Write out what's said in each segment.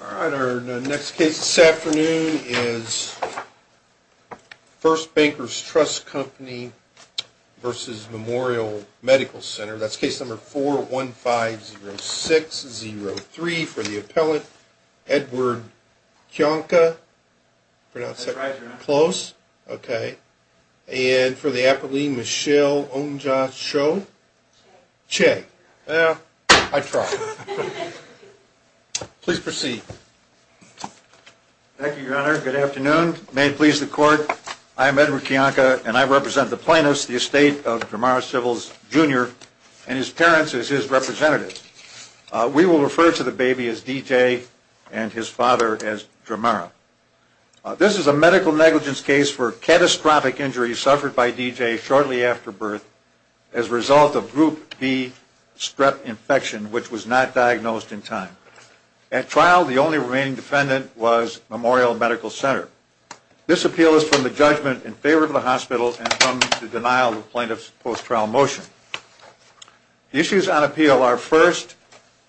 All right, our next case this afternoon is First Bankers Trust Company versus Memorial Medical Center. That's case number 4150603 for the appellant, Edward Kionka. Pronounce that close. Okay. And for the appellant, Michelle Ongjasho. Che. Che. Well, I tried. Please proceed. Thank you, Your Honor. Good afternoon. May it please the Court, I am Edward Kionka, and I represent the plaintiffs, the estate of Dramara Civils, Jr., and his parents as his representatives. We will refer to the baby as DJ and his father as Dramara. This is a medical negligence case for catastrophic injuries suffered by DJ shortly after birth as a result of Group B strep infection, which was not diagnosed in time. At trial, the only remaining defendant was Memorial Medical Center. This appeal is from the judgment in favor of the hospital and from the denial of the plaintiff's post-trial motion. The issues on appeal are, first,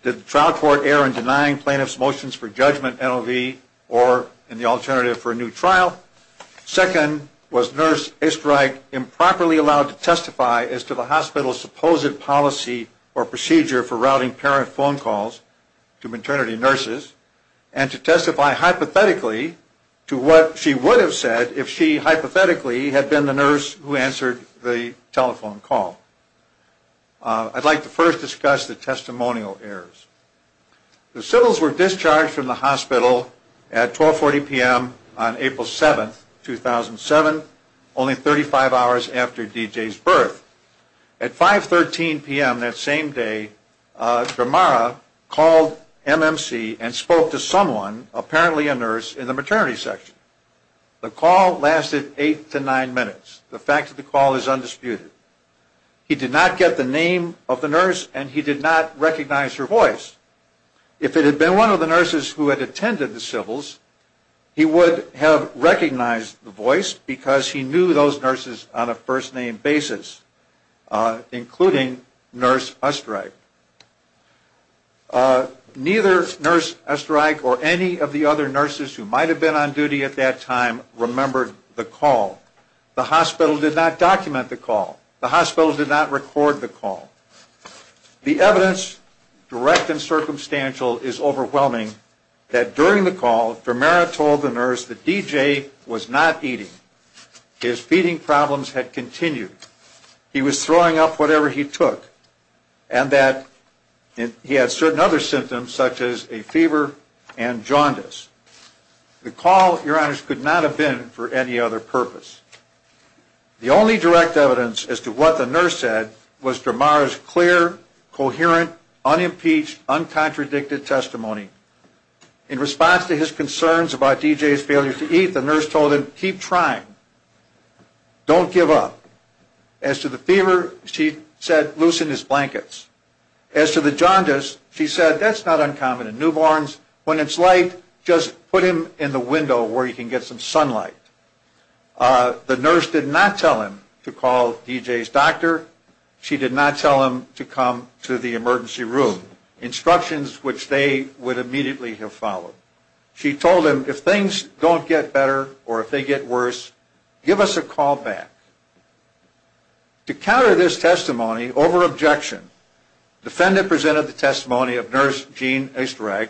did the trial court err in denying plaintiff's motions for judgment, NLV, or in the alternative for a new trial? Second, was Nurse Estreich improperly allowed to testify as to the hospital's supposed policy or procedure for routing parent phone calls to maternity nurses and to testify hypothetically to what she would have said if she hypothetically had been the nurse who answered the telephone call? I'd like to first discuss the testimonial errors. The Sibyls were discharged from the hospital at 12.40 p.m. on April 7, 2007, only 35 hours after DJ's birth. At 5.13 p.m. that same day, Dramara called MMC and spoke to someone, apparently a nurse, in the maternity section. The call lasted eight to nine minutes. The fact of the call is undisputed. He did not get the name of the nurse, and he did not recognize her voice. If it had been one of the nurses who had attended the Sibyls, he would have recognized the voice because he knew those nurses on a first-name basis, including Nurse Estreich. Neither Nurse Estreich or any of the other nurses who might have been on duty at that time remembered the call. The hospital did not document the call. The hospital did not record the call. The evidence, direct and circumstantial, is overwhelming that during the call, Dramara told the nurse that DJ was not eating. His feeding problems had continued. He was throwing up whatever he took, and that he had certain other symptoms such as a fever and jaundice. The call, Your Honors, could not have been for any other purpose. The only direct evidence as to what the nurse said was Dramara's clear, coherent, unimpeached, uncontradicted testimony. In response to his concerns about DJ's failure to eat, the nurse told him, keep trying. Don't give up. As to the fever, she said, loosen his blankets. As to the jaundice, she said, that's not uncommon in newborns. When it's light, just put him in the window where he can get some sunlight. The nurse did not tell him to call DJ's doctor. She did not tell him to come to the emergency room, instructions which they would immediately have followed. She told him, if things don't get better or if they get worse, give us a call back. To counter this testimony over objection, the defendant presented the testimony of Nurse Jean Esterak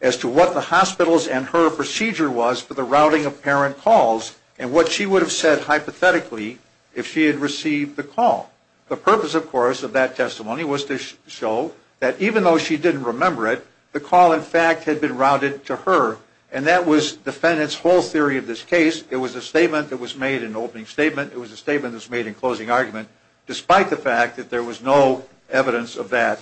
as to what the hospital's and her procedure was for the routing of parent calls and what she would have said hypothetically if she had received the call. The purpose, of course, of that testimony was to show that even though she didn't remember it, the call, in fact, had been routed to her, and that was the defendant's whole theory of this case. It was a statement that was made in opening statement. It was a statement that was made in closing argument, despite the fact that there was no evidence of that,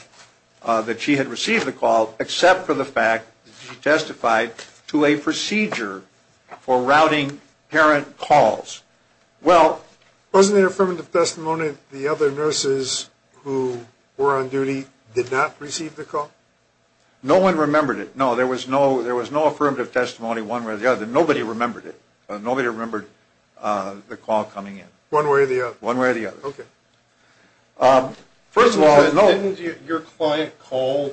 that she had received the call, except for the fact that she testified to a procedure for routing parent calls. Well... Wasn't there affirmative testimony that the other nurses who were on duty did not receive the call? No one remembered it. No, there was no affirmative testimony one way or the other. Nobody remembered it. Nobody remembered the call coming in. One way or the other. One way or the other. Okay. First of all... Didn't your client call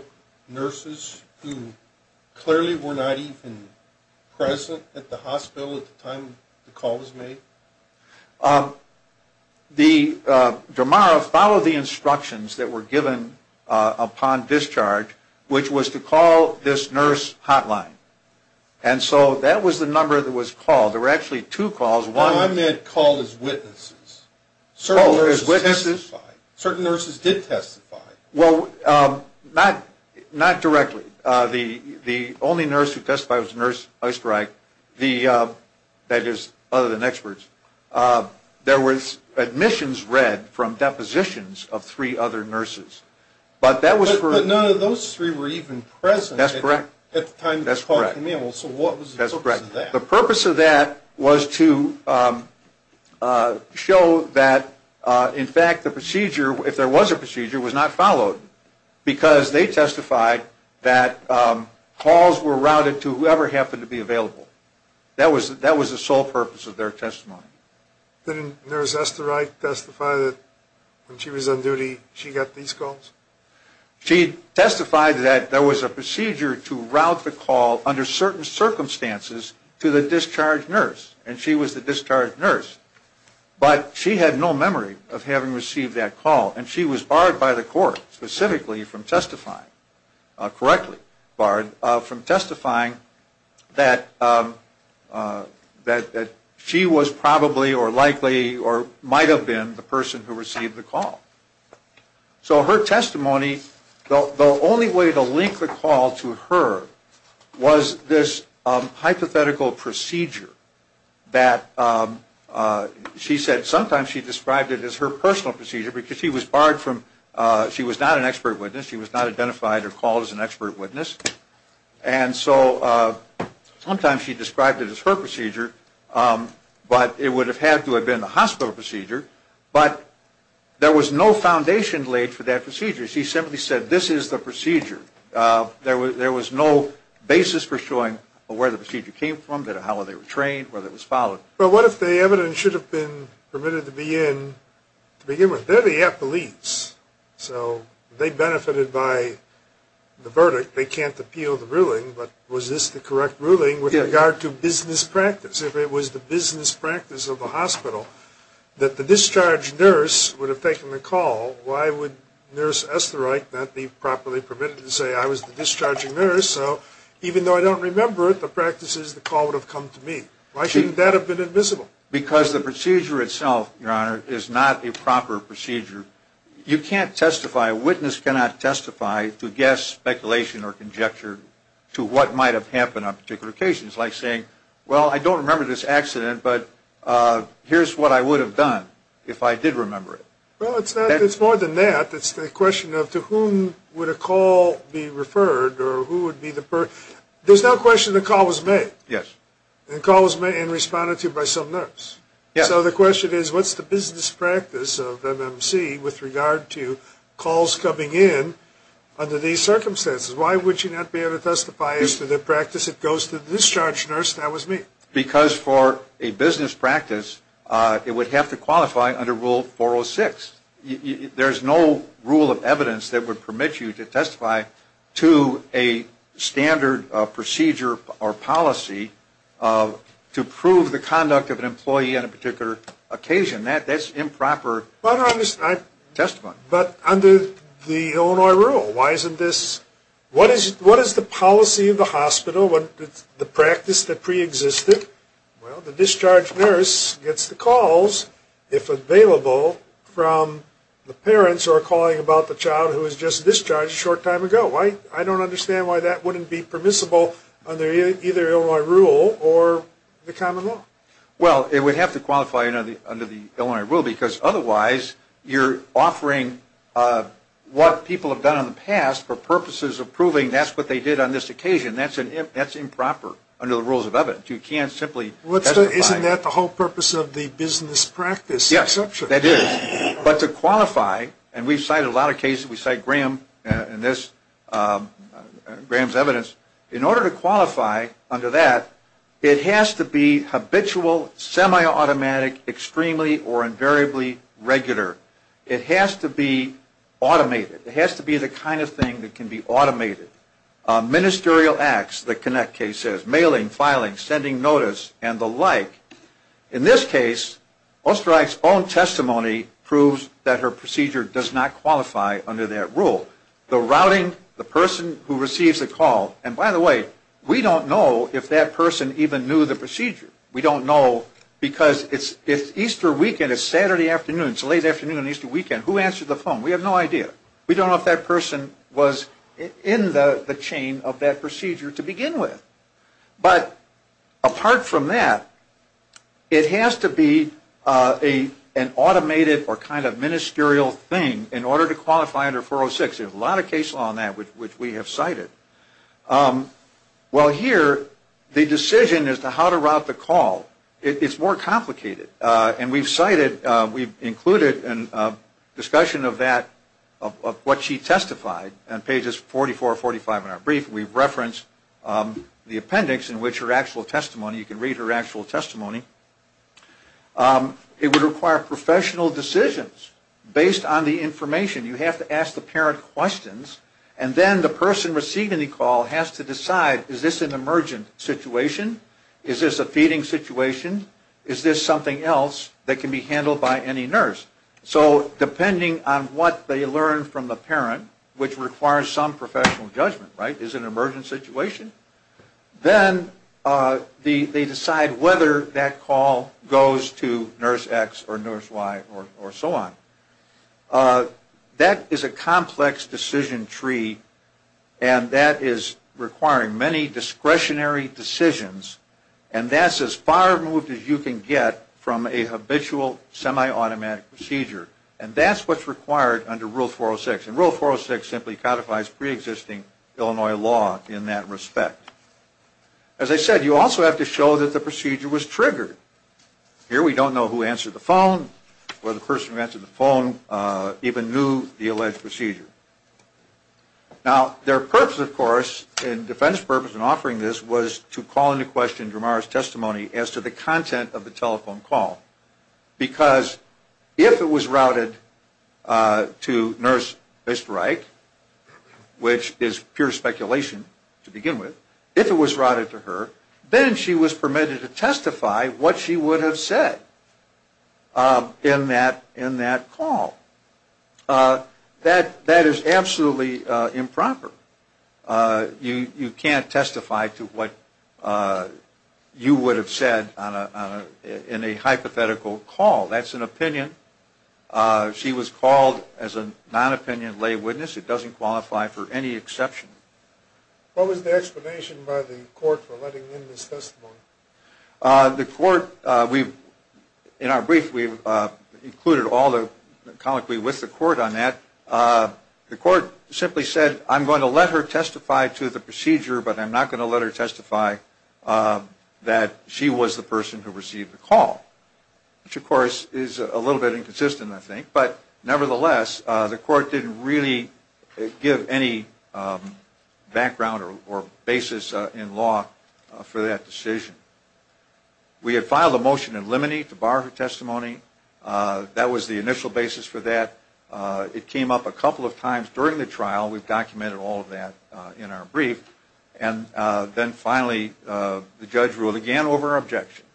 nurses who clearly were not even present at the hospital at the time the call was made? The... Jamara followed the instructions that were given upon discharge, which was to call this nurse hotline. And so that was the number that was called. There were actually two calls. One... I meant call as witnesses. Oh, as witnesses. Certain nurses testified. Certain nurses did testify. Well, not directly. The only nurse who testified was Nurse Oesterreich, that is, other than experts. There was admissions read from depositions of three other nurses, but that was for... But none of those three were even present... That's correct. ...at the time the call came in. That's correct. Well, so what was the purpose of that? That's correct. The purpose of that was to show that, in fact, the procedure, if there was a procedure, was not followed, because they testified that calls were routed to whoever happened to be available. That was the sole purpose of their testimony. Didn't Nurse Oesterreich testify that when she was on duty she got these calls? She testified that there was a procedure to route the call under certain circumstances to the discharged nurse, and she was the discharged nurse. But she had no memory of having received that call, and she was barred by the court, specifically from testifying, correctly barred, from testifying that she was probably or likely or might have been the person who received the call. So her testimony, the only way to link the call to her, was this hypothetical procedure that she said... Sometimes she described it as her personal procedure, because she was barred from... She was not an expert witness. She was not identified or called as an expert witness. And so sometimes she described it as her procedure, but it would have had to have been the hospital procedure. But there was no foundation laid for that procedure. She simply said, this is the procedure. There was no basis for showing where the procedure came from, how they were trained, whether it was followed. Well, what if the evidence should have been permitted to begin with? They're the police, so they benefited by the verdict. They can't appeal the ruling, but was this the correct ruling with regard to business practice? If it was the business practice of the hospital, that the discharge nurse would have taken the call, why would Nurse Esterich not be properly permitted to say, I was the discharging nurse? So even though I don't remember it, the practice is the call would have come to me. Why shouldn't that have been invisible? Because the procedure itself, Your Honor, is not a proper procedure. You can't testify, a witness cannot testify to guess, speculation, or conjecture to what might have happened on particular occasions. Like saying, well, I don't remember this accident, but here's what I would have done if I did remember it. Well, it's more than that. It's the question of to whom would a call be referred or who would be the person. There's no question the call was made. Yes. The call was made and responded to by some nurse. Yes. So the question is, what's the business practice of MMC with regard to calls coming in under these circumstances? Why would you not be able to testify as to the practice? It goes to the discharge nurse, and that was me. Because for a business practice, it would have to qualify under Rule 406. There's no rule of evidence that would permit you to testify to a standard procedure or policy to prove the conduct of an employee on a particular occasion. That's improper testimony. But under the Illinois rule, what is the policy of the hospital, the practice that preexisted? Well, the discharge nurse gets the calls, if available, from the parents who are calling about the child who was just discharged a short time ago. I don't understand why that wouldn't be permissible under either Illinois rule or the common law. Well, it would have to qualify under the Illinois rule, because otherwise you're offering what people have done in the past for purposes of proving that's what they did on this occasion. That's improper under the rules of evidence. You can't simply testify. Isn't that the whole purpose of the business practice exception? Yes, that is. But to qualify, and we've cited a lot of cases. We cite Graham in this, Graham's evidence. In order to qualify under that, it has to be habitual, semi-automatic, extremely or invariably regular. It has to be automated. It has to be the kind of thing that can be automated. Ministerial acts, the Connect case says, mailing, filing, sending notice, and the like. In this case, Oesterreich's own testimony proves that her procedure does not qualify under that rule. The routing, the person who receives the call, and by the way, we don't know if that person even knew the procedure. We don't know because it's Easter weekend, it's Saturday afternoon, it's a late afternoon on Easter weekend. Who answers the phone? We have no idea. We don't know if that person was in the chain of that procedure to begin with. But apart from that, it has to be an automated or kind of ministerial thing in order to qualify under 406. There's a lot of cases on that which we have cited. Well, here, the decision as to how to route the call, it's more complicated. And we've cited, we've included a discussion of that, of what she testified on pages 44 and 45 in our brief. We've referenced the appendix in which her actual testimony, you can read her actual testimony. It would require professional decisions based on the information. You have to ask the parent questions, and then the person receiving the call has to decide, is this an emergent situation? Is this a feeding situation? Is this something else that can be handled by any nurse? So depending on what they learn from the parent, which requires some professional judgment, right? Is it an emergent situation? Then they decide whether that call goes to nurse X or nurse Y or so on. That is a complex decision tree, and that is requiring many discretionary decisions. And that's as far removed as you can get from a habitual semi-automatic procedure. And that's what's required under Rule 406. And Rule 406 simply codifies preexisting Illinois law in that respect. As I said, you also have to show that the procedure was triggered. Here we don't know who answered the phone, whether the person who answered the phone even knew the alleged procedure. Now, their purpose, of course, and defense purpose in offering this, was to call into question Dramar's testimony as to the content of the telephone call. Because if it was routed to nurse Mr. Reich, which is pure speculation to begin with, if it was routed to her, then she was permitted to testify what she would have said in that call. That is absolutely improper. You can't testify to what you would have said in a hypothetical call. That's an opinion. She was called as a non-opinion lay witness. It doesn't qualify for any exception. What was the explanation by the court for letting in this testimony? The court, in our brief, we've included all the colloquy with the court on that. The court simply said, I'm going to let her testify to the procedure, but I'm not going to let her testify that she was the person who received the call. Which, of course, is a little bit inconsistent, I think. But, nevertheless, the court didn't really give any background or basis in law for that decision. We had filed a motion in limine to bar her testimony. That was the initial basis for that. It came up a couple of times during the trial. We've documented all of that in our brief. And then, finally, the judge ruled again over her objection,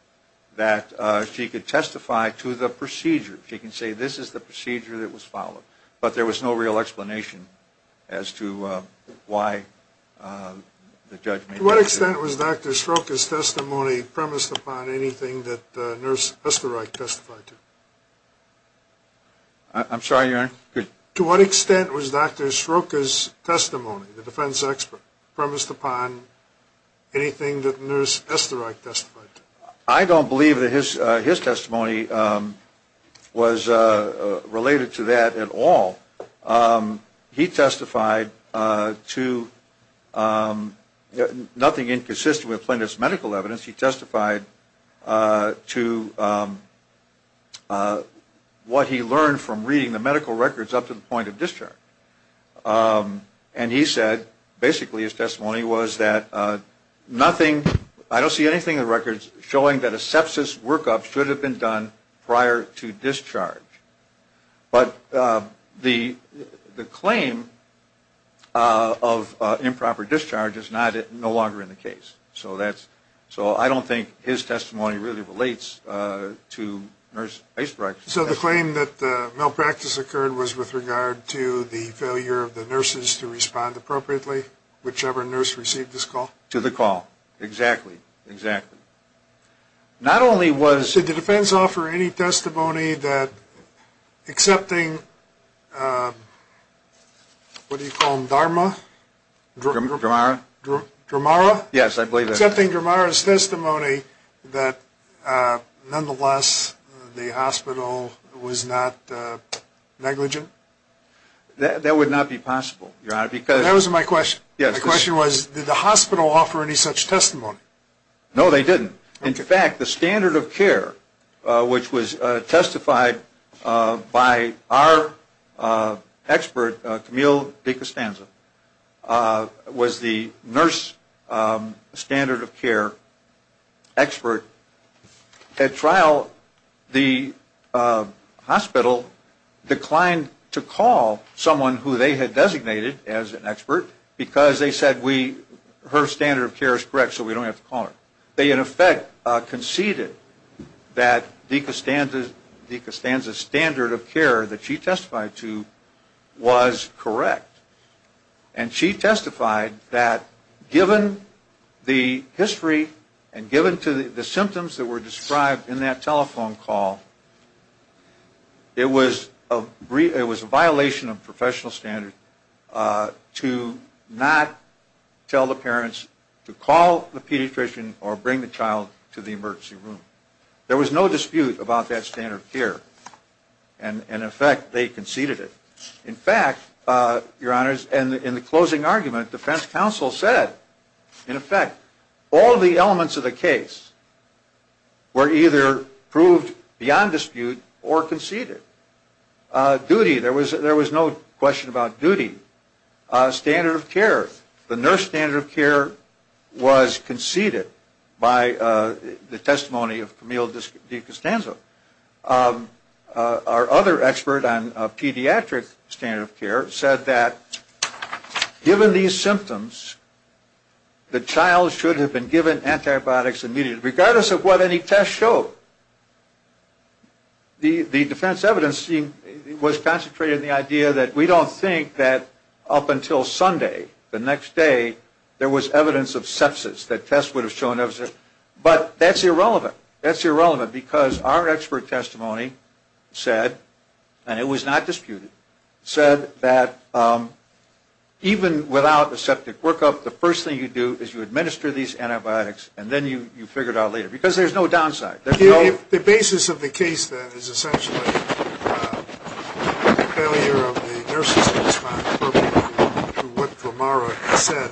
that she could testify to the procedure. She can say, this is the procedure that was followed. But there was no real explanation as to why the judge made that decision. To what extent was Dr. Sroka's testimony premised upon anything that Nurse Esterich testified to? I'm sorry, Your Honor? To what extent was Dr. Sroka's testimony, the defense expert, premised upon anything that Nurse Esterich testified to? I don't believe that his testimony was related to that at all. He testified to nothing inconsistent with plaintiff's medical evidence. He testified to what he learned from reading the medical records up to the point of discharge. And he said, basically, his testimony was that nothing, I don't see anything in the records, showing that a sepsis workup should have been done prior to discharge. But the claim of improper discharge is no longer in the case. So I don't think his testimony really relates to Nurse Esterich. So the claim that malpractice occurred was with regard to the failure of the nurses to respond appropriately, whichever nurse received this call? To the call, exactly, exactly. Did the defense offer any testimony that, excepting, what do you call him, Dharma? Dramara? Yes, I believe that. Excepting Dramara's testimony that, nonetheless, the hospital was not negligent? That would not be possible, Your Honor. That wasn't my question. My question was, did the hospital offer any such testimony? No, they didn't. In fact, the standard of care, which was testified by our expert, Camille DeCostanza, was the nurse standard of care expert. At trial, the hospital declined to call someone who they had designated as an expert, because they said her standard of care is correct so we don't have to call her. They, in effect, conceded that DeCostanza's standard of care that she testified to was correct. And she testified that, given the history and given to the symptoms that were described in that telephone call, it was a violation of professional standards to not tell the parents to call the pediatrician or bring the child to the emergency room. There was no dispute about that standard of care. And, in effect, they conceded it. In fact, Your Honors, in the closing argument, defense counsel said, in effect, all the elements of the case were either proved beyond dispute or conceded. Duty, there was no question about duty. Standard of care, the nurse standard of care was conceded by the testimony of Camille DeCostanza. Our other expert on pediatric standard of care said that, given these symptoms, the child should have been given antibiotics immediately, regardless of what any tests showed. The defense evidence was concentrated in the idea that we don't think that up until Sunday, the next day, there was evidence of sepsis that tests would have shown. But that's irrelevant. That's irrelevant because our expert testimony said, and it was not disputed, said that even without the septic workup, the first thing you do is you administer these antibiotics, and then you figure it out later because there's no downside. The basis of the case, then, is essentially the failure of the nurses to respond appropriately to what Dramara said.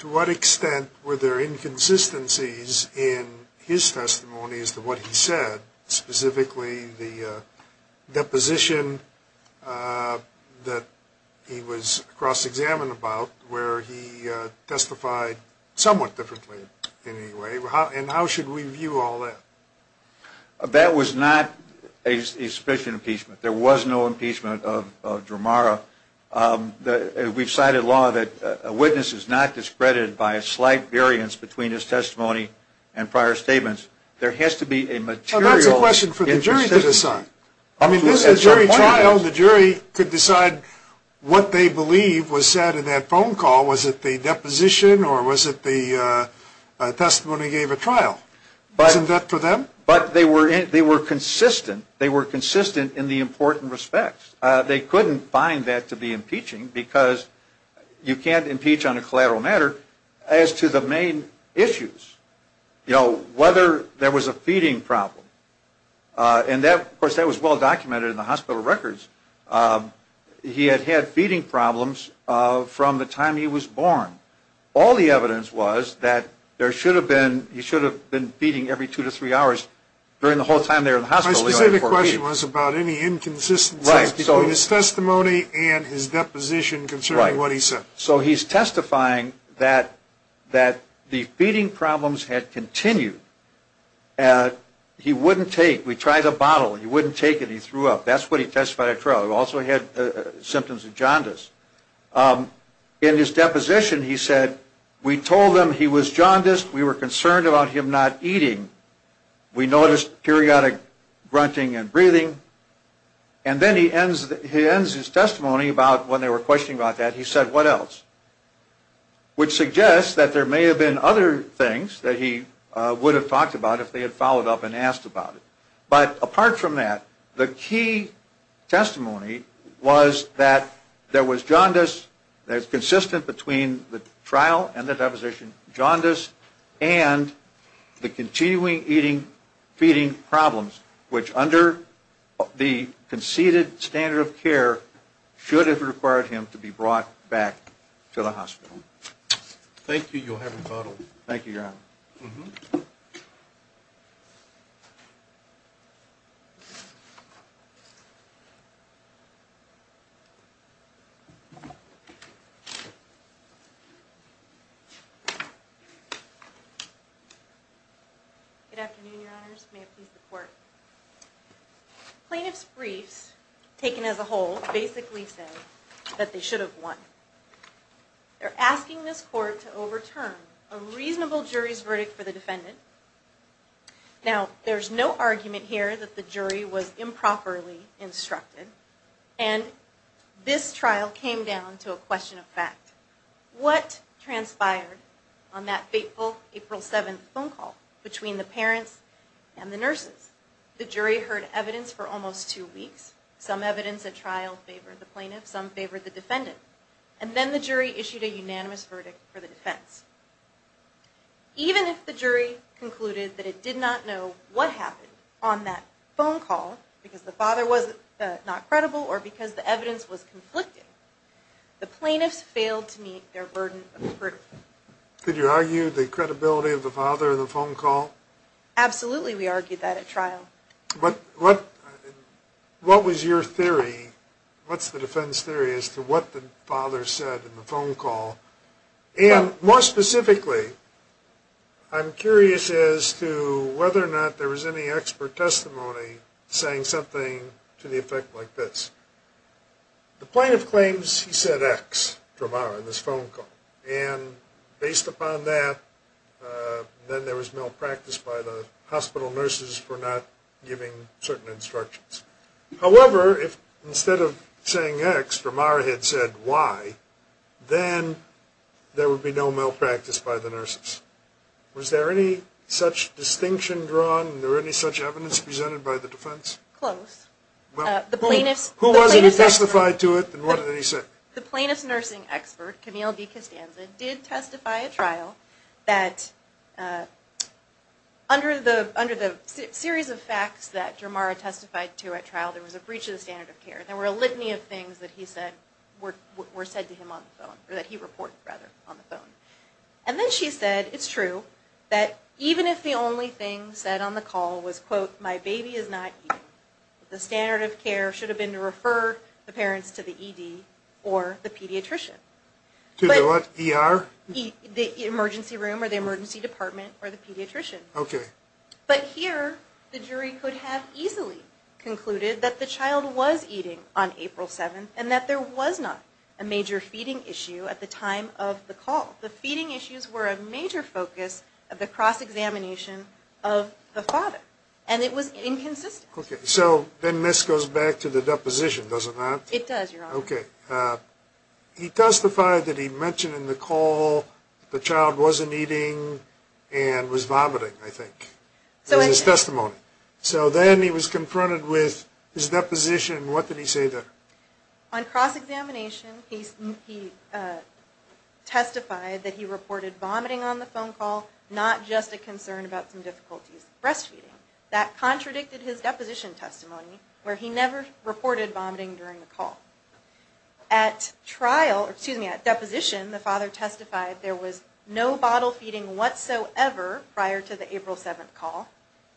To what extent were there inconsistencies in his testimony as to what he said, specifically the deposition that he was cross-examined about where he testified somewhat differently in any way, and how should we view all that? That was not a sufficient impeachment. There was no impeachment of Dramara. We've cited law that a witness is not discredited by a slight variance between his testimony and prior statements. There has to be a material inconsistency. Well, that's a question for the jury to decide. I mean, at jury trial, the jury could decide what they believe was said in that phone call. Was it the deposition or was it the testimony he gave at trial? Wasn't that for them? But they were consistent. They were consistent in the important respects. They couldn't find that to be impeaching because you can't impeach on a collateral matter. As to the main issues, you know, whether there was a feeding problem, and, of course, that was well documented in the hospital records, he had had feeding problems from the time he was born. All the evidence was that there should have been, he should have been feeding every two to three hours during the whole time they were in the hospital. My specific question was about any inconsistencies between his testimony and his deposition concerning what he said. Right. So he's testifying that the feeding problems had continued. He wouldn't take. We tried a bottle. He wouldn't take it. He threw up. That's what he testified at trial. He also had symptoms of jaundice. In his deposition, he said, we told them he was jaundiced. We were concerned about him not eating. We noticed periodic grunting and breathing. And then he ends his testimony about when they were questioning about that, he said, what else? Which suggests that there may have been other things that he would have talked about if they had followed up and asked about it. But apart from that, the key testimony was that there was jaundice. It's consistent between the trial and the deposition, jaundice, and the continuing eating, feeding problems, which under the conceded standard of care should have required him to be brought back to the hospital. Thank you. Thank you, Your Honor. Good afternoon, Your Honors. May it please the Court. Plaintiff's briefs, taken as a whole, basically say that they should have won. They're asking this Court to overturn a reasonable jury's verdict for the defendant. Now, there's no argument here that the jury was improperly instructed. And this trial came down to a question of fact. What transpired on that fateful April 7th phone call between the parents and the nurses? The jury heard evidence for almost two weeks. Some evidence at trial favored the plaintiff, some favored the defendant. And then the jury issued a unanimous verdict for the defense. Even if the jury concluded that it did not know what happened on that phone call, because the father was not credible or because the evidence was conflicted, the plaintiffs failed to meet their burden of the verdict. Did you argue the credibility of the father in the phone call? Absolutely, we argued that at trial. What was your theory? What's the defense theory as to what the father said in the phone call? And more specifically, I'm curious as to whether or not there was any expert testimony saying something to the effect like this. The plaintiff claims he said X to Amara in this phone call. And based upon that, then there was malpractice by the hospital nurses for not giving certain instructions. However, if instead of saying X, Amara had said Y, then there would be no malpractice by the nurses. Was there any such distinction drawn? Was there any such evidence presented by the defense? Close. Who was it who testified to it and what did he say? The plaintiff's nursing expert, Camille DeCostanza, did testify at trial that under the series of facts that Jamara testified to at trial, there was a breach of the standard of care. There were a litany of things that he said were said to him on the phone, or that he reported, rather, on the phone. And then she said, it's true, that even if the only thing said on the call was, quote, my baby is not eating, the standard of care should have been to refer the parents to the ED or the pediatrician. To the what? ER? The emergency room or the emergency department or the pediatrician. Okay. But here, the jury could have easily concluded that the child was eating on April 7th and that there was not a major feeding issue at the time of the call. The feeding issues were a major focus of the cross-examination of the father. And it was inconsistent. Okay. So then this goes back to the deposition, doesn't it? It does, Your Honor. Okay. He testified that he mentioned in the call that the child wasn't eating and was vomiting, I think. That was his testimony. So then he was confronted with his deposition. What did he say then? On cross-examination, he testified that he reported vomiting on the phone call, not just a concern about some difficulties with breastfeeding. That contradicted his deposition testimony where he never reported vomiting during the call. At deposition, the father testified there was no bottle feeding whatsoever prior to the April 7th call.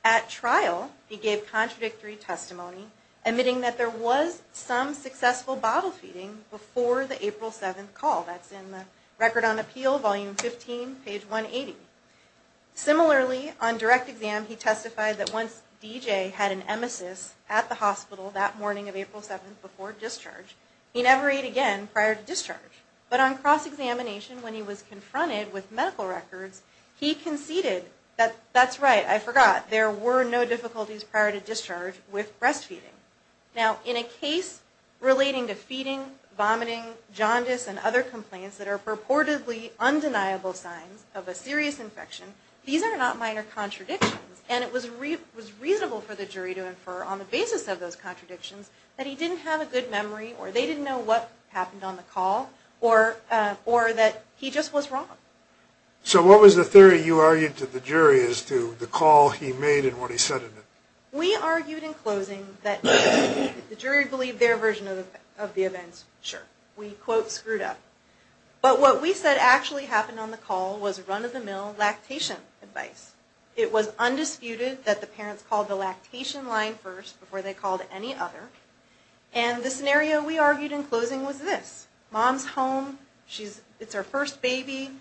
At trial, he gave contradictory testimony, admitting that there was some successful bottle feeding before the April 7th call. That's in the Record on Appeal, Volume 15, page 180. Similarly, on direct exam, he testified that once DJ had an emesis at the hospital that morning of April 7th before discharge, he never ate again prior to discharge. But on cross-examination, when he was confronted with medical records, he conceded that, that's right, I forgot, there were no difficulties prior to discharge with breastfeeding. Now, in a case relating to feeding, vomiting, jaundice, and other complaints that are purportedly undeniable signs of a serious infection, these are not minor contradictions. And it was reasonable for the jury to infer on the basis of those contradictions that he didn't have a good memory, or they didn't know what happened on the call, or that he just was wrong. So what was the theory you argued to the jury as to the call he made and what he said in it? We argued in closing that the jury believed their version of the events, sure. We, quote, screwed up. But what we said actually happened on the call was run-of-the-mill lactation advice. It was undisputed that the parents called the lactation line first before they called any other. And the scenario we argued in closing was this. Mom's home, it's her first baby,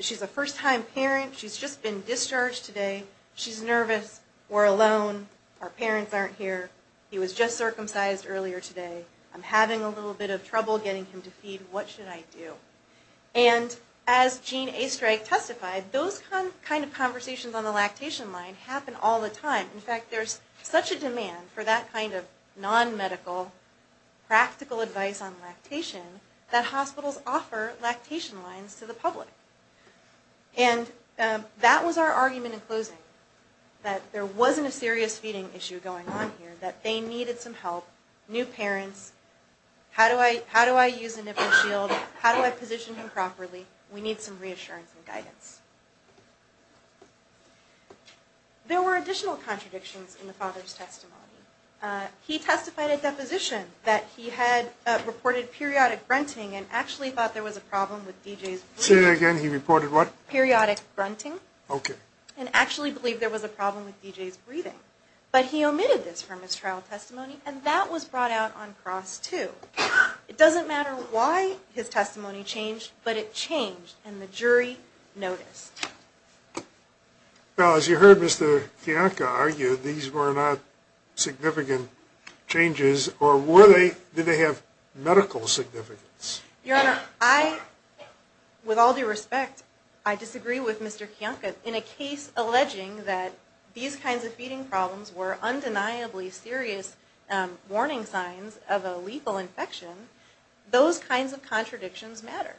she's a first-time parent, she's just been discharged today, she's nervous, we're alone, our parents aren't here, he was just circumcised earlier today, I'm having a little bit of trouble getting him to feed, what should I do? And as Gene Estreich testified, those kind of conversations on the lactation line happen all the time. In fact, there's such a demand for that kind of non-medical, practical advice on lactation that hospitals offer lactation lines to the public. And that was our argument in closing, that there wasn't a serious feeding issue going on here, that they needed some help, new parents, how do I use a nipple shield, how do I position him properly, we need some reassurance and guidance. There were additional contradictions in the father's testimony. He testified at deposition that he had reported periodic grunting and actually thought there was a problem with DJ's breathing. Say that again, he reported what? Periodic grunting. Okay. And actually believed there was a problem with DJ's breathing. But he omitted this from his trial testimony, and that was brought out on cross too. It doesn't matter why his testimony changed, but it changed, and the jury noticed. Now, as you heard Mr. Kiyanka argue, these were not significant changes, or were they, did they have medical significance? Your Honor, I, with all due respect, I disagree with Mr. Kiyanka in a case alleging that these kinds of feeding problems were undeniably serious warning signs of a lethal infection. Those kinds of contradictions matter.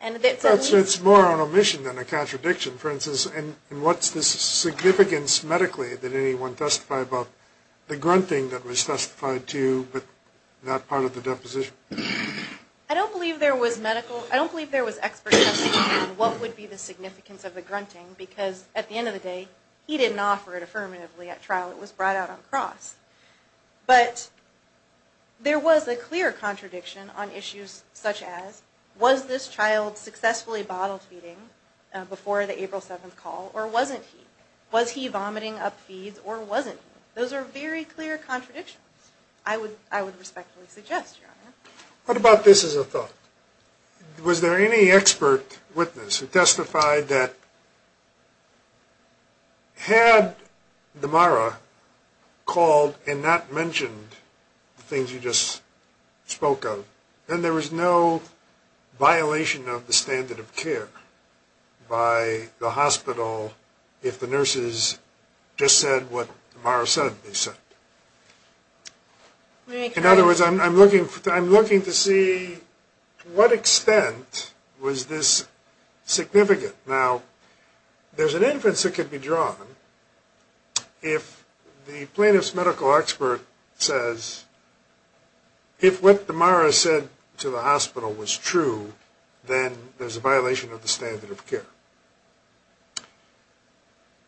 It's more an omission than a contradiction. For instance, what's the significance medically that anyone testified about the grunting that was testified to, but not part of the deposition? I don't believe there was medical, I don't believe there was expert testing on what would be the significance of the grunting, because at the end of the day, he didn't offer it affirmatively at trial. It was brought out on cross. But there was a clear contradiction on issues such as, was this child successfully bottle feeding before the April 7th call, or wasn't he? Was he vomiting up feeds, or wasn't he? Those are very clear contradictions, I would respectfully suggest, Your Honor. What about this as a thought? Was there any expert witness who testified that had Damara called and not mentioned the things you just spoke of, then there was no violation of the standard of care by the hospital if the nurses just said what Damara said they said. In other words, I'm looking to see to what extent was this significant. Now, there's an inference that could be drawn if the plaintiff's medical expert says, if what Damara said to the hospital was true, then there's a violation of the standard of care.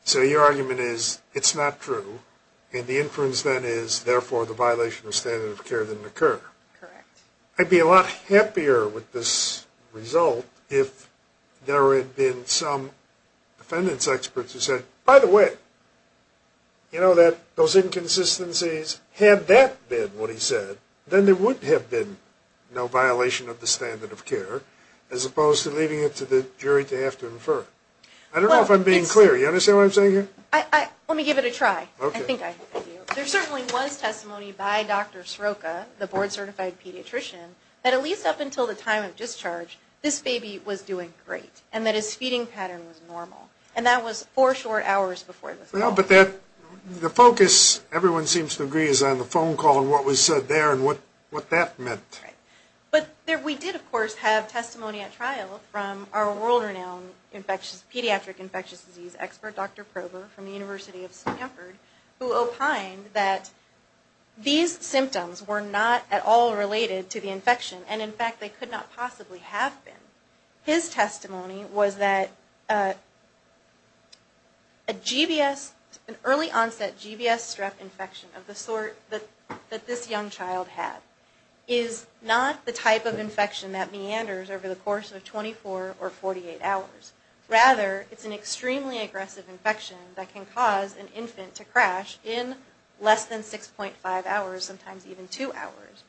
So your argument is, it's not true, and the inference then is, therefore, the violation of standard of care didn't occur. Correct. I'd be a lot happier with this result if there had been some defendants experts who said, by the way, you know that those inconsistencies, had that been what he said, then there would have been no violation of the standard of care, as opposed to leaving it to the jury to have to infer. I don't know if I'm being clear. You understand what I'm saying here? Let me give it a try. I think I do. There certainly was testimony by Dr. Sroka, the board-certified pediatrician, that at least up until the time of discharge, this baby was doing great, and that his feeding pattern was normal. And that was four short hours before the fall. The focus, everyone seems to agree, is on the phone call and what was said there and what that meant. But we did, of course, have testimony at trial from our world-renowned pediatric infectious disease expert, Dr. Prober, from the University of Stanford, who opined that these symptoms were not at all related to the infection, and, in fact, they could not possibly have been. His testimony was that an early-onset GBS strep infection of the sort that this young child had is not the type of infection that meanders over the course of 24 or 48 hours. Rather, it's an extremely aggressive infection that can cause an infant to crash in less than 6.5 hours, sometimes even two hours.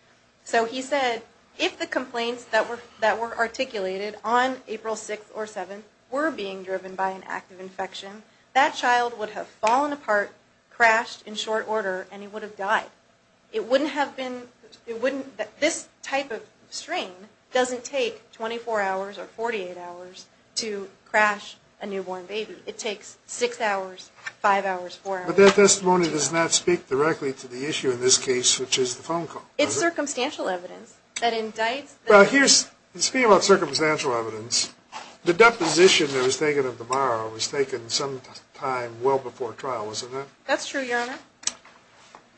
So he said, if the complaints that were articulated on April 6th or 7th were being driven by an active infection, that child would have fallen apart, crashed in short order, and he would have died. This type of strain doesn't take 24 hours or 48 hours to crash a newborn baby. It takes 6 hours, 5 hours, 4 hours. But that testimony does not speak directly to the issue in this case, which is the phone call. It's circumstantial evidence that indicts... Speaking about circumstantial evidence, the deposition that was taken at the bar was taken sometime well before trial, wasn't it? That's true, Your Honor.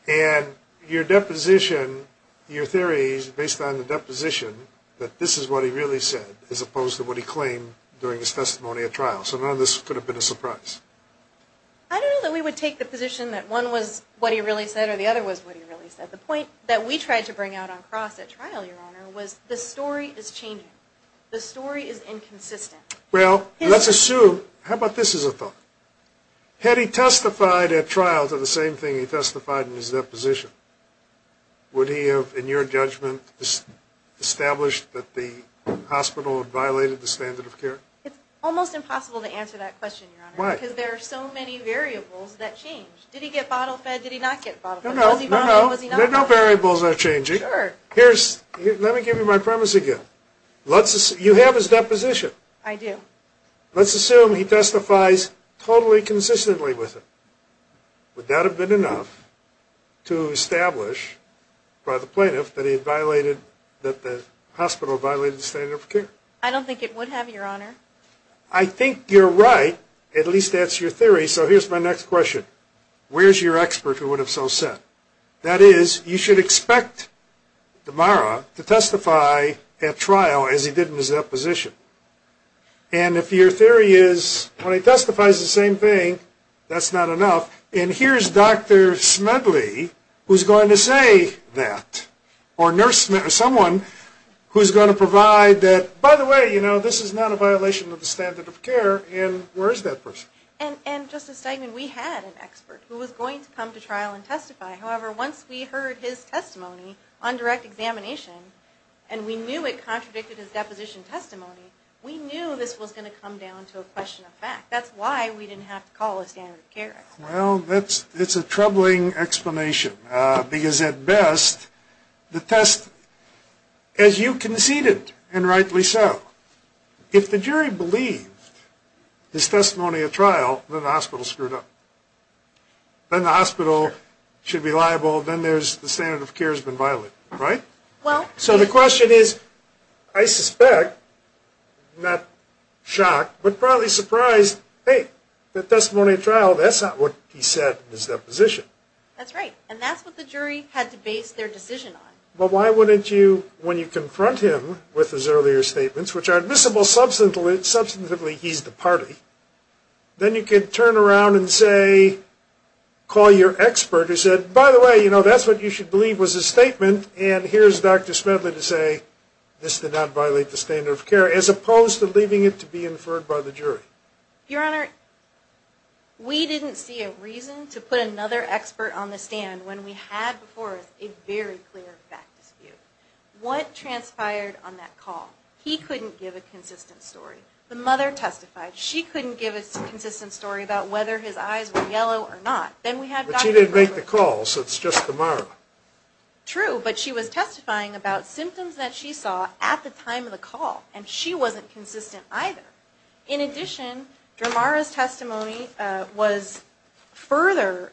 And your deposition, your theory is based on the deposition that this is what he really said, as opposed to what he claimed during his testimony at trial. So none of this could have been a surprise. I don't know that we would take the position that one was what he really said or the other was what he really said. The point that we tried to bring out on cross at trial, Your Honor, was the story is changing. The story is inconsistent. Well, let's assume... How about this as a thought? Had he testified at trial to the same thing he testified in his deposition, would he have, in your judgment, established that the hospital had violated the standard of care? It's almost impossible to answer that question, Your Honor. Why? Because there are so many variables that change. Did he get bottle fed? Did he not get bottle fed? No, no, no. Was he bottle fed? Was he not bottle fed? There are no variables that are changing. Sure. Let me give you my premise again. You have his deposition. I do. Let's assume he testifies totally consistently with it. Would that have been enough to establish by the plaintiff that the hospital violated the standard of care? I don't think it would have, Your Honor. I think you're right. At least that's your theory. So here's my next question. Where's your expert who would have so said? That is, you should expect Damara to testify at trial as he did in his deposition. And if your theory is when he testifies the same thing, that's not enough. And here's Dr. Smedley who's going to say that. Or someone who's going to provide that, by the way, you know, this is not a violation of the standard of care. And where is that person? And, Justice Stegman, we had an expert who was going to come to trial and testify. However, once we heard his testimony on direct examination, and we knew it contradicted his deposition testimony, we knew this was going to come down to a question of fact. That's why we didn't have to call a standard of care expert. Well, it's a troubling explanation because, at best, the test, as you conceded, and rightly so, if the jury believed his testimony at trial, then the hospital screwed up. Then the hospital should be liable, then the standard of care has been violated, right? So the question is, I suspect, not shocked, but probably surprised, hey, the testimony at trial, that's not what he said in his deposition. That's right. And that's what the jury had to base their decision on. But why wouldn't you, when you confront him with his earlier statements, which are admissible substantively he's the party, then you could turn around and say, call your expert who said, by the way, you know, that's what you should believe was his statement, and here's Dr. Smedley to say, this did not violate the standard of care, as opposed to leaving it to be inferred by the jury. Your Honor, we didn't see a reason to put another expert on the stand when we had before us a very clear fact dispute. What transpired on that call? He couldn't give a consistent story. The mother testified. She couldn't give a consistent story about whether his eyes were yellow or not. But she didn't make the call, so it's just the mother. True, but she was testifying about symptoms that she saw at the time of the call, and she wasn't consistent either. In addition, Dramara's testimony was further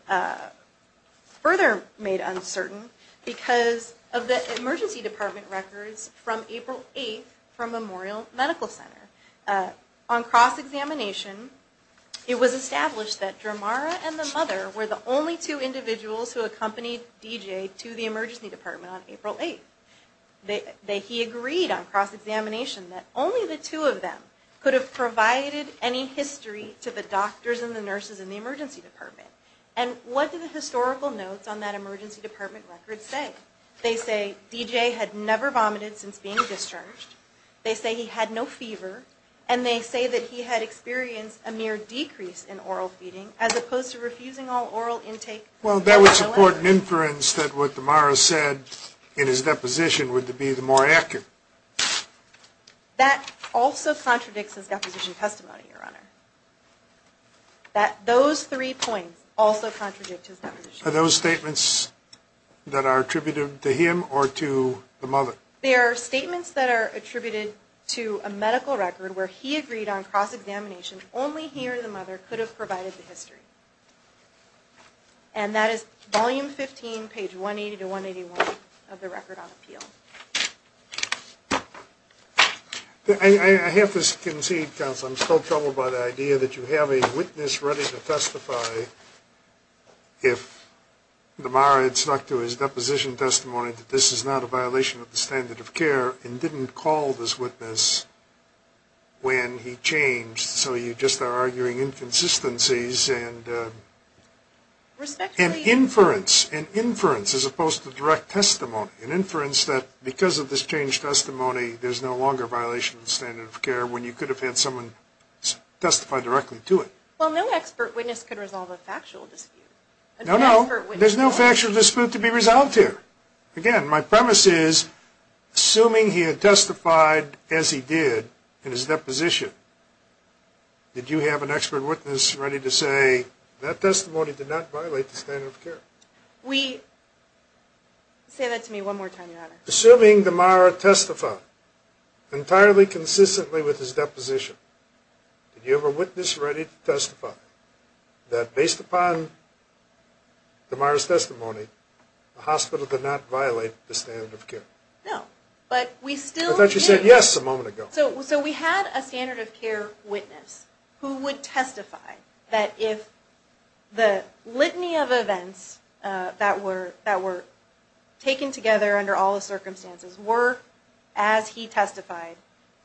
made uncertain because of the emergency department records from April 8th from Memorial Medical Center. On cross-examination, it was established that Dramara and the mother were the only two individuals who accompanied DJ to the emergency department on April 8th. He agreed on cross-examination that only the two of them could have provided any history to the doctors and the nurses in the emergency department. And what do the historical notes on that emergency department record say? They say DJ had never vomited since being discharged. They say he had no fever. And they say that he had experienced a mere decrease in oral feeding as opposed to refusing all oral intake. Well, that would support an inference that what Dramara said in his deposition would be the more accurate. That also contradicts his deposition testimony, Your Honor. Those three points also contradict his deposition testimony. Are those statements that are attributed to him or to the mother? They are statements that are attributed to a medical record where he agreed on cross-examination only he or the mother could have provided the history. And that is volume 15, page 180 to 181 of the record on appeal. I have to concede, counsel, I'm still troubled by the idea that you have a witness ready to testify if Dramara had stuck to his deposition testimony that this is not a violation of the standard of care and didn't call this witness when he changed. So you just are arguing inconsistencies and inference as opposed to direct testimony. An inference that because of this changed testimony, there's no longer a violation of the standard of care when you could have had someone testify directly to it. Well, no expert witness could resolve a factual dispute. No, no, there's no factual dispute to be resolved here. Again, my premise is, assuming he had testified as he did in his deposition, did you have an expert witness ready to say, that testimony did not violate the standard of care? Say that to me one more time, Your Honor. Assuming Dramara testified entirely consistently with his deposition, did you have a witness ready to testify that based upon Dramara's testimony, the hospital did not violate the standard of care? No, but we still do. I thought you said yes a moment ago. So we had a standard of care witness who would testify that if the litany of events that were taken together under all the circumstances were as he testified,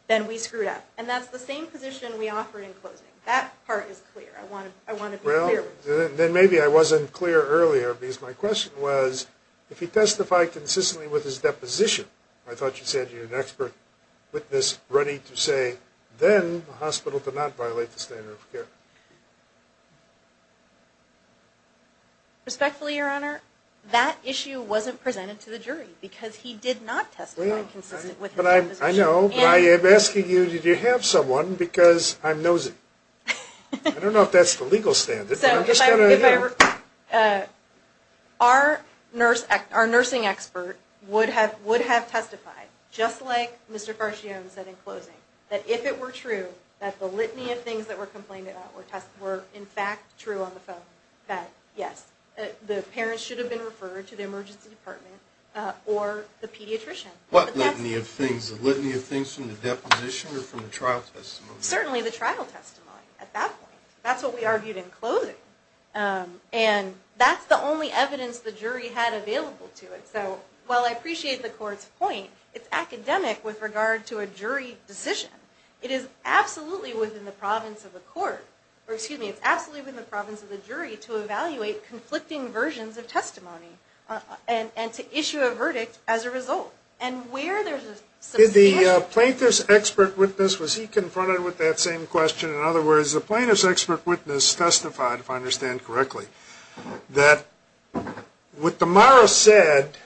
then we screwed up. And that's the same position we offered in closing. That part is clear. I want to be clear. Then maybe I wasn't clear earlier because my question was, if he testified consistently with his deposition, I thought you said you had an expert witness ready to say, then the hospital did not violate the standard of care. Respectfully, Your Honor, that issue wasn't presented to the jury because he did not testify consistently with his deposition. I know, but I am asking you, did you have someone? Because I'm nosy. I don't know if that's the legal standard. Our nursing expert would have testified, just like Mr. Farchione said in closing, that if it were true that the litany of things that were complained about were in fact true on the phone, that yes, the parents should have been referred to the emergency department or the pediatrician. What litany of things? The litany of things from the deposition or from the trial testimony? Certainly the trial testimony at that point. That's what we argued in closing. And that's the only evidence the jury had available to it. So while I appreciate the court's point, it's academic with regard to a jury decision. It is absolutely within the province of the court to evaluate conflicting versions of testimony and to issue a verdict as a result. Did the plaintiff's expert witness, was he confronted with that same question? In other words, the plaintiff's expert witness testified, if I understand correctly, that what Damara said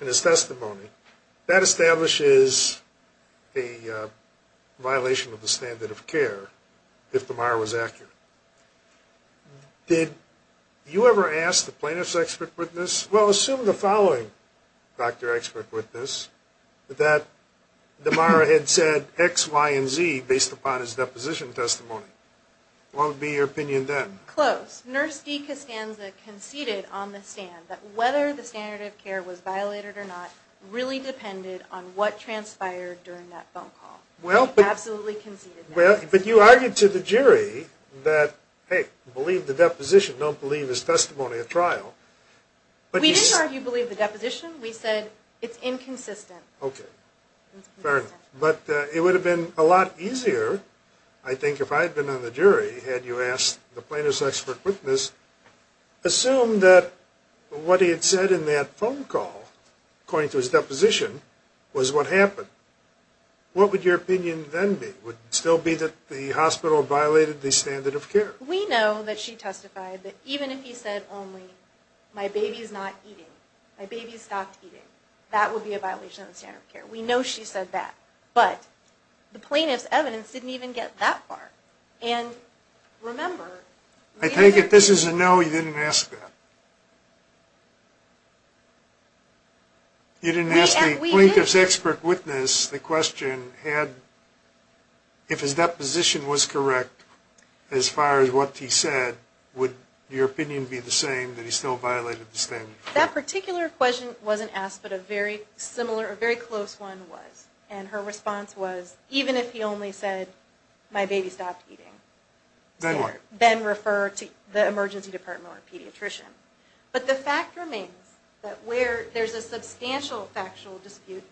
in his testimony, that establishes a violation of the standard of care, if Damara was accurate. Did you ever ask the plaintiff's expert witness, well, assume the following doctor expert witness, that Damara had said X, Y, and Z based upon his deposition testimony. What would be your opinion then? Close. Nurse D. Costanza conceded on the stand that whether the standard of care was violated or not really depended on what transpired during that phone call. Absolutely conceded that. But you argued to the jury that, hey, don't believe his testimony at trial. We didn't argue believe the deposition. We said it's inconsistent. Okay, fair enough. But it would have been a lot easier, I think, if I had been on the jury, had you asked the plaintiff's expert witness, assume that what he had said in that phone call, according to his deposition, was what happened. What would your opinion then be? Would it still be that the hospital violated the standard of care? We know that she testified that even if he said only, my baby's not eating, my baby stopped eating, that would be a violation of the standard of care. We know she said that. But the plaintiff's evidence didn't even get that far. And remember, we didn't argue. I take it this is a no, you didn't ask that. You didn't ask the plaintiff's expert witness the question had, if his deposition was correct, as far as what he said, would your opinion be the same, that he still violated the standard of care? That particular question wasn't asked, but a very similar, a very close one was. And her response was, even if he only said, my baby stopped eating, then refer to the emergency department or a pediatrician. But the fact remains that where there's a substantial factual dispute,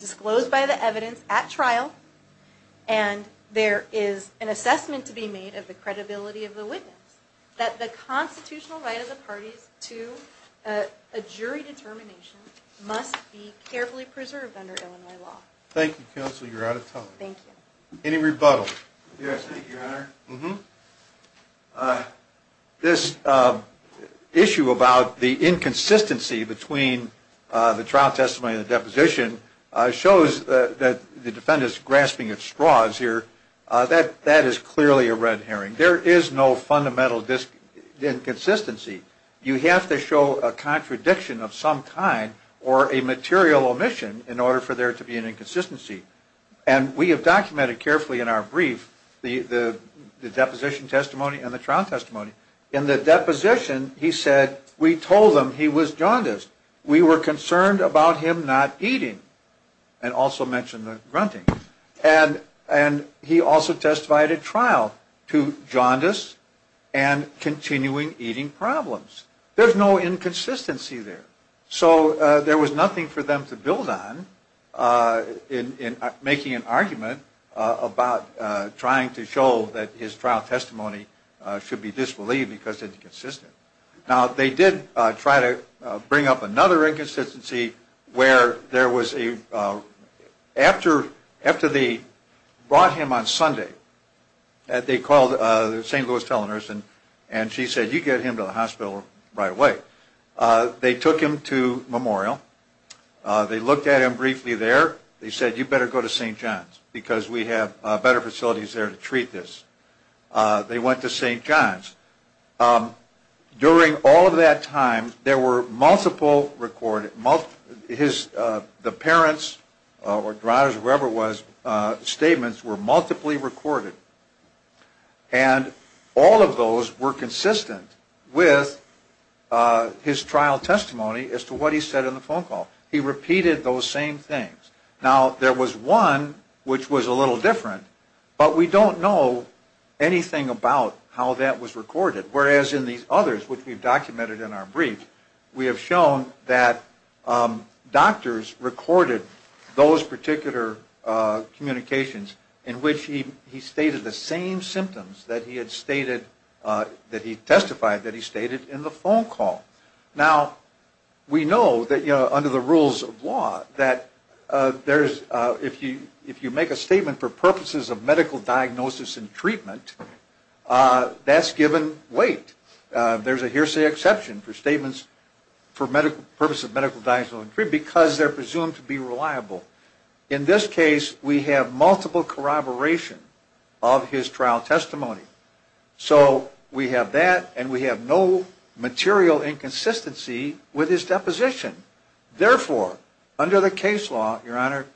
disclosed by the evidence at trial, and there is an assessment to be made of the credibility of the witness, that the constitutional right of the parties to a jury determination must be carefully preserved under Illinois law. Thank you, counsel, you're out of time. Thank you. Any rebuttals? Yes, thank you, your honor. This issue about the inconsistency between the trial testimony and the deposition shows that the defendant is grasping at straws here. That is clearly a red herring. There is no fundamental inconsistency. You have to show a contradiction of some kind or a material omission in order for there to be an inconsistency. And we have documented carefully in our brief the deposition testimony and the trial testimony. In the deposition, he said, we told them he was jaundiced. We were concerned about him not eating, and also mentioned the grunting. And he also testified at trial to jaundice and continuing eating problems. There's no inconsistency there. So there was nothing for them to build on in making an argument about trying to show that his trial testimony should be disbelieved because it's inconsistent. Now, they did try to bring up another inconsistency where there was a – after they brought him on Sunday, they called the St. Louis tele-nurse, and she said, you get him to the hospital right away. They took him to Memorial. They looked at him briefly there. They said, you better go to St. John's because we have better facilities there to treat this. They went to St. John's. During all of that time, there were multiple – the parents or drivers or whoever it was, statements were multiply recorded. And all of those were consistent with his trial testimony as to what he said in the phone call. He repeated those same things. Now, there was one which was a little different, but we don't know anything about how that was recorded. Whereas in these others, which we've documented in our brief, we have shown that doctors recorded those particular communications in which he stated the same symptoms that he had stated – that he testified that he stated in the phone call. Now, we know that under the rules of law that if you make a statement for purposes of medical diagnosis and treatment, that's given weight. There's a hearsay exception for statements for purposes of medical diagnosis and treatment because they're presumed to be reliable. In this case, we have multiple corroboration of his trial testimony. So we have that, and we have no material inconsistency with his deposition. Therefore, under the case law, Your Honor,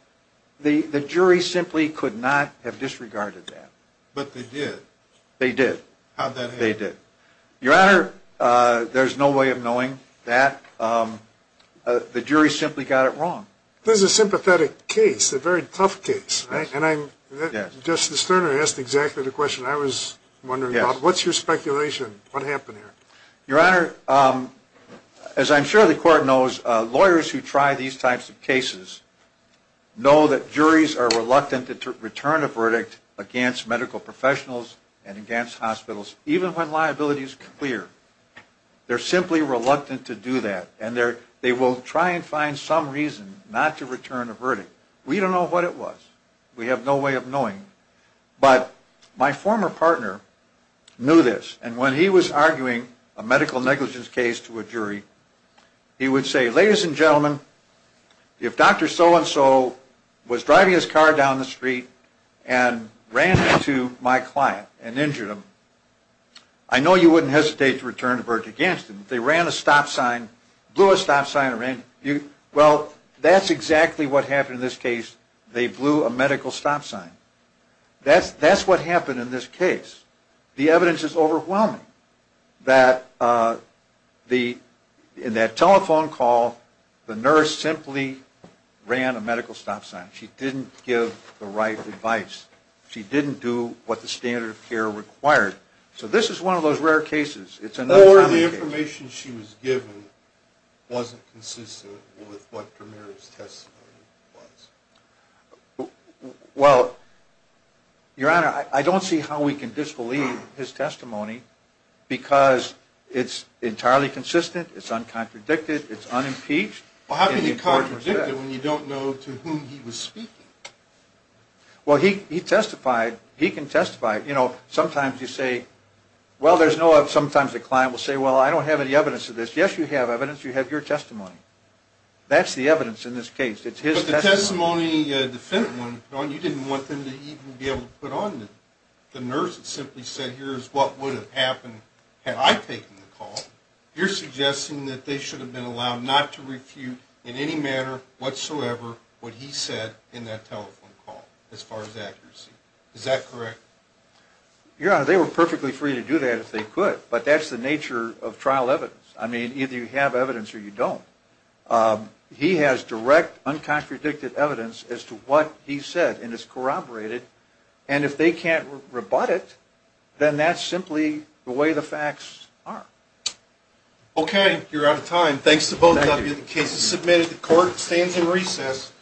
the jury simply could not have disregarded that. But they did. They did. How'd that happen? They did. Your Honor, there's no way of knowing that. The jury simply got it wrong. This is a sympathetic case, a very tough case. Justice Sterner asked exactly the question I was wondering about. What's your speculation? What happened here? Your Honor, as I'm sure the Court knows, lawyers who try these types of cases know that juries are reluctant to return a verdict against medical professionals and against hospitals, even when liability is clear. They're simply reluctant to do that. And they will try and find some reason not to return a verdict. We don't know what it was. We have no way of knowing. But my former partner knew this, and when he was arguing a medical negligence case to a jury, he would say, Ladies and gentlemen, if Dr. So-and-so was driving his car down the street and ran into my client and injured him, I know you wouldn't hesitate to return a verdict against him. They ran a stop sign, blew a stop sign around him. Well, that's exactly what happened in this case. They blew a medical stop sign. That's what happened in this case. The evidence is overwhelming that in that telephone call, the nurse simply ran a medical stop sign. She didn't give the right advice. She didn't do what the standard of care required. So this is one of those rare cases. Or the information she was given wasn't consistent with what Premier's testimony was. Well, Your Honor, I don't see how we can disbelieve his testimony because it's entirely consistent, it's uncontradicted, it's unimpeached. Well, how can you contradict it when you don't know to whom he was speaking? Well, he testified. He can testify. You know, sometimes you say, well, there's no evidence. Sometimes the client will say, well, I don't have any evidence of this. Yes, you have evidence. You have your testimony. That's the evidence in this case. It's his testimony. But the testimony the defendant wanted to put on, you didn't want them to even be able to put on. The nurse simply said, here's what would have happened had I taken the call. You're suggesting that they should have been allowed not to refute in any manner whatsoever what he said in that telephone call as far as accuracy. Is that correct? Your Honor, they were perfectly free to do that if they could. But that's the nature of trial evidence. I mean, either you have evidence or you don't. He has direct, uncontradicted evidence as to what he said, and it's corroborated. And if they can't rebut it, then that's simply the way the facts are. Okay. You're out of time. Thanks to both of you. The case is submitted. The court stands in recess.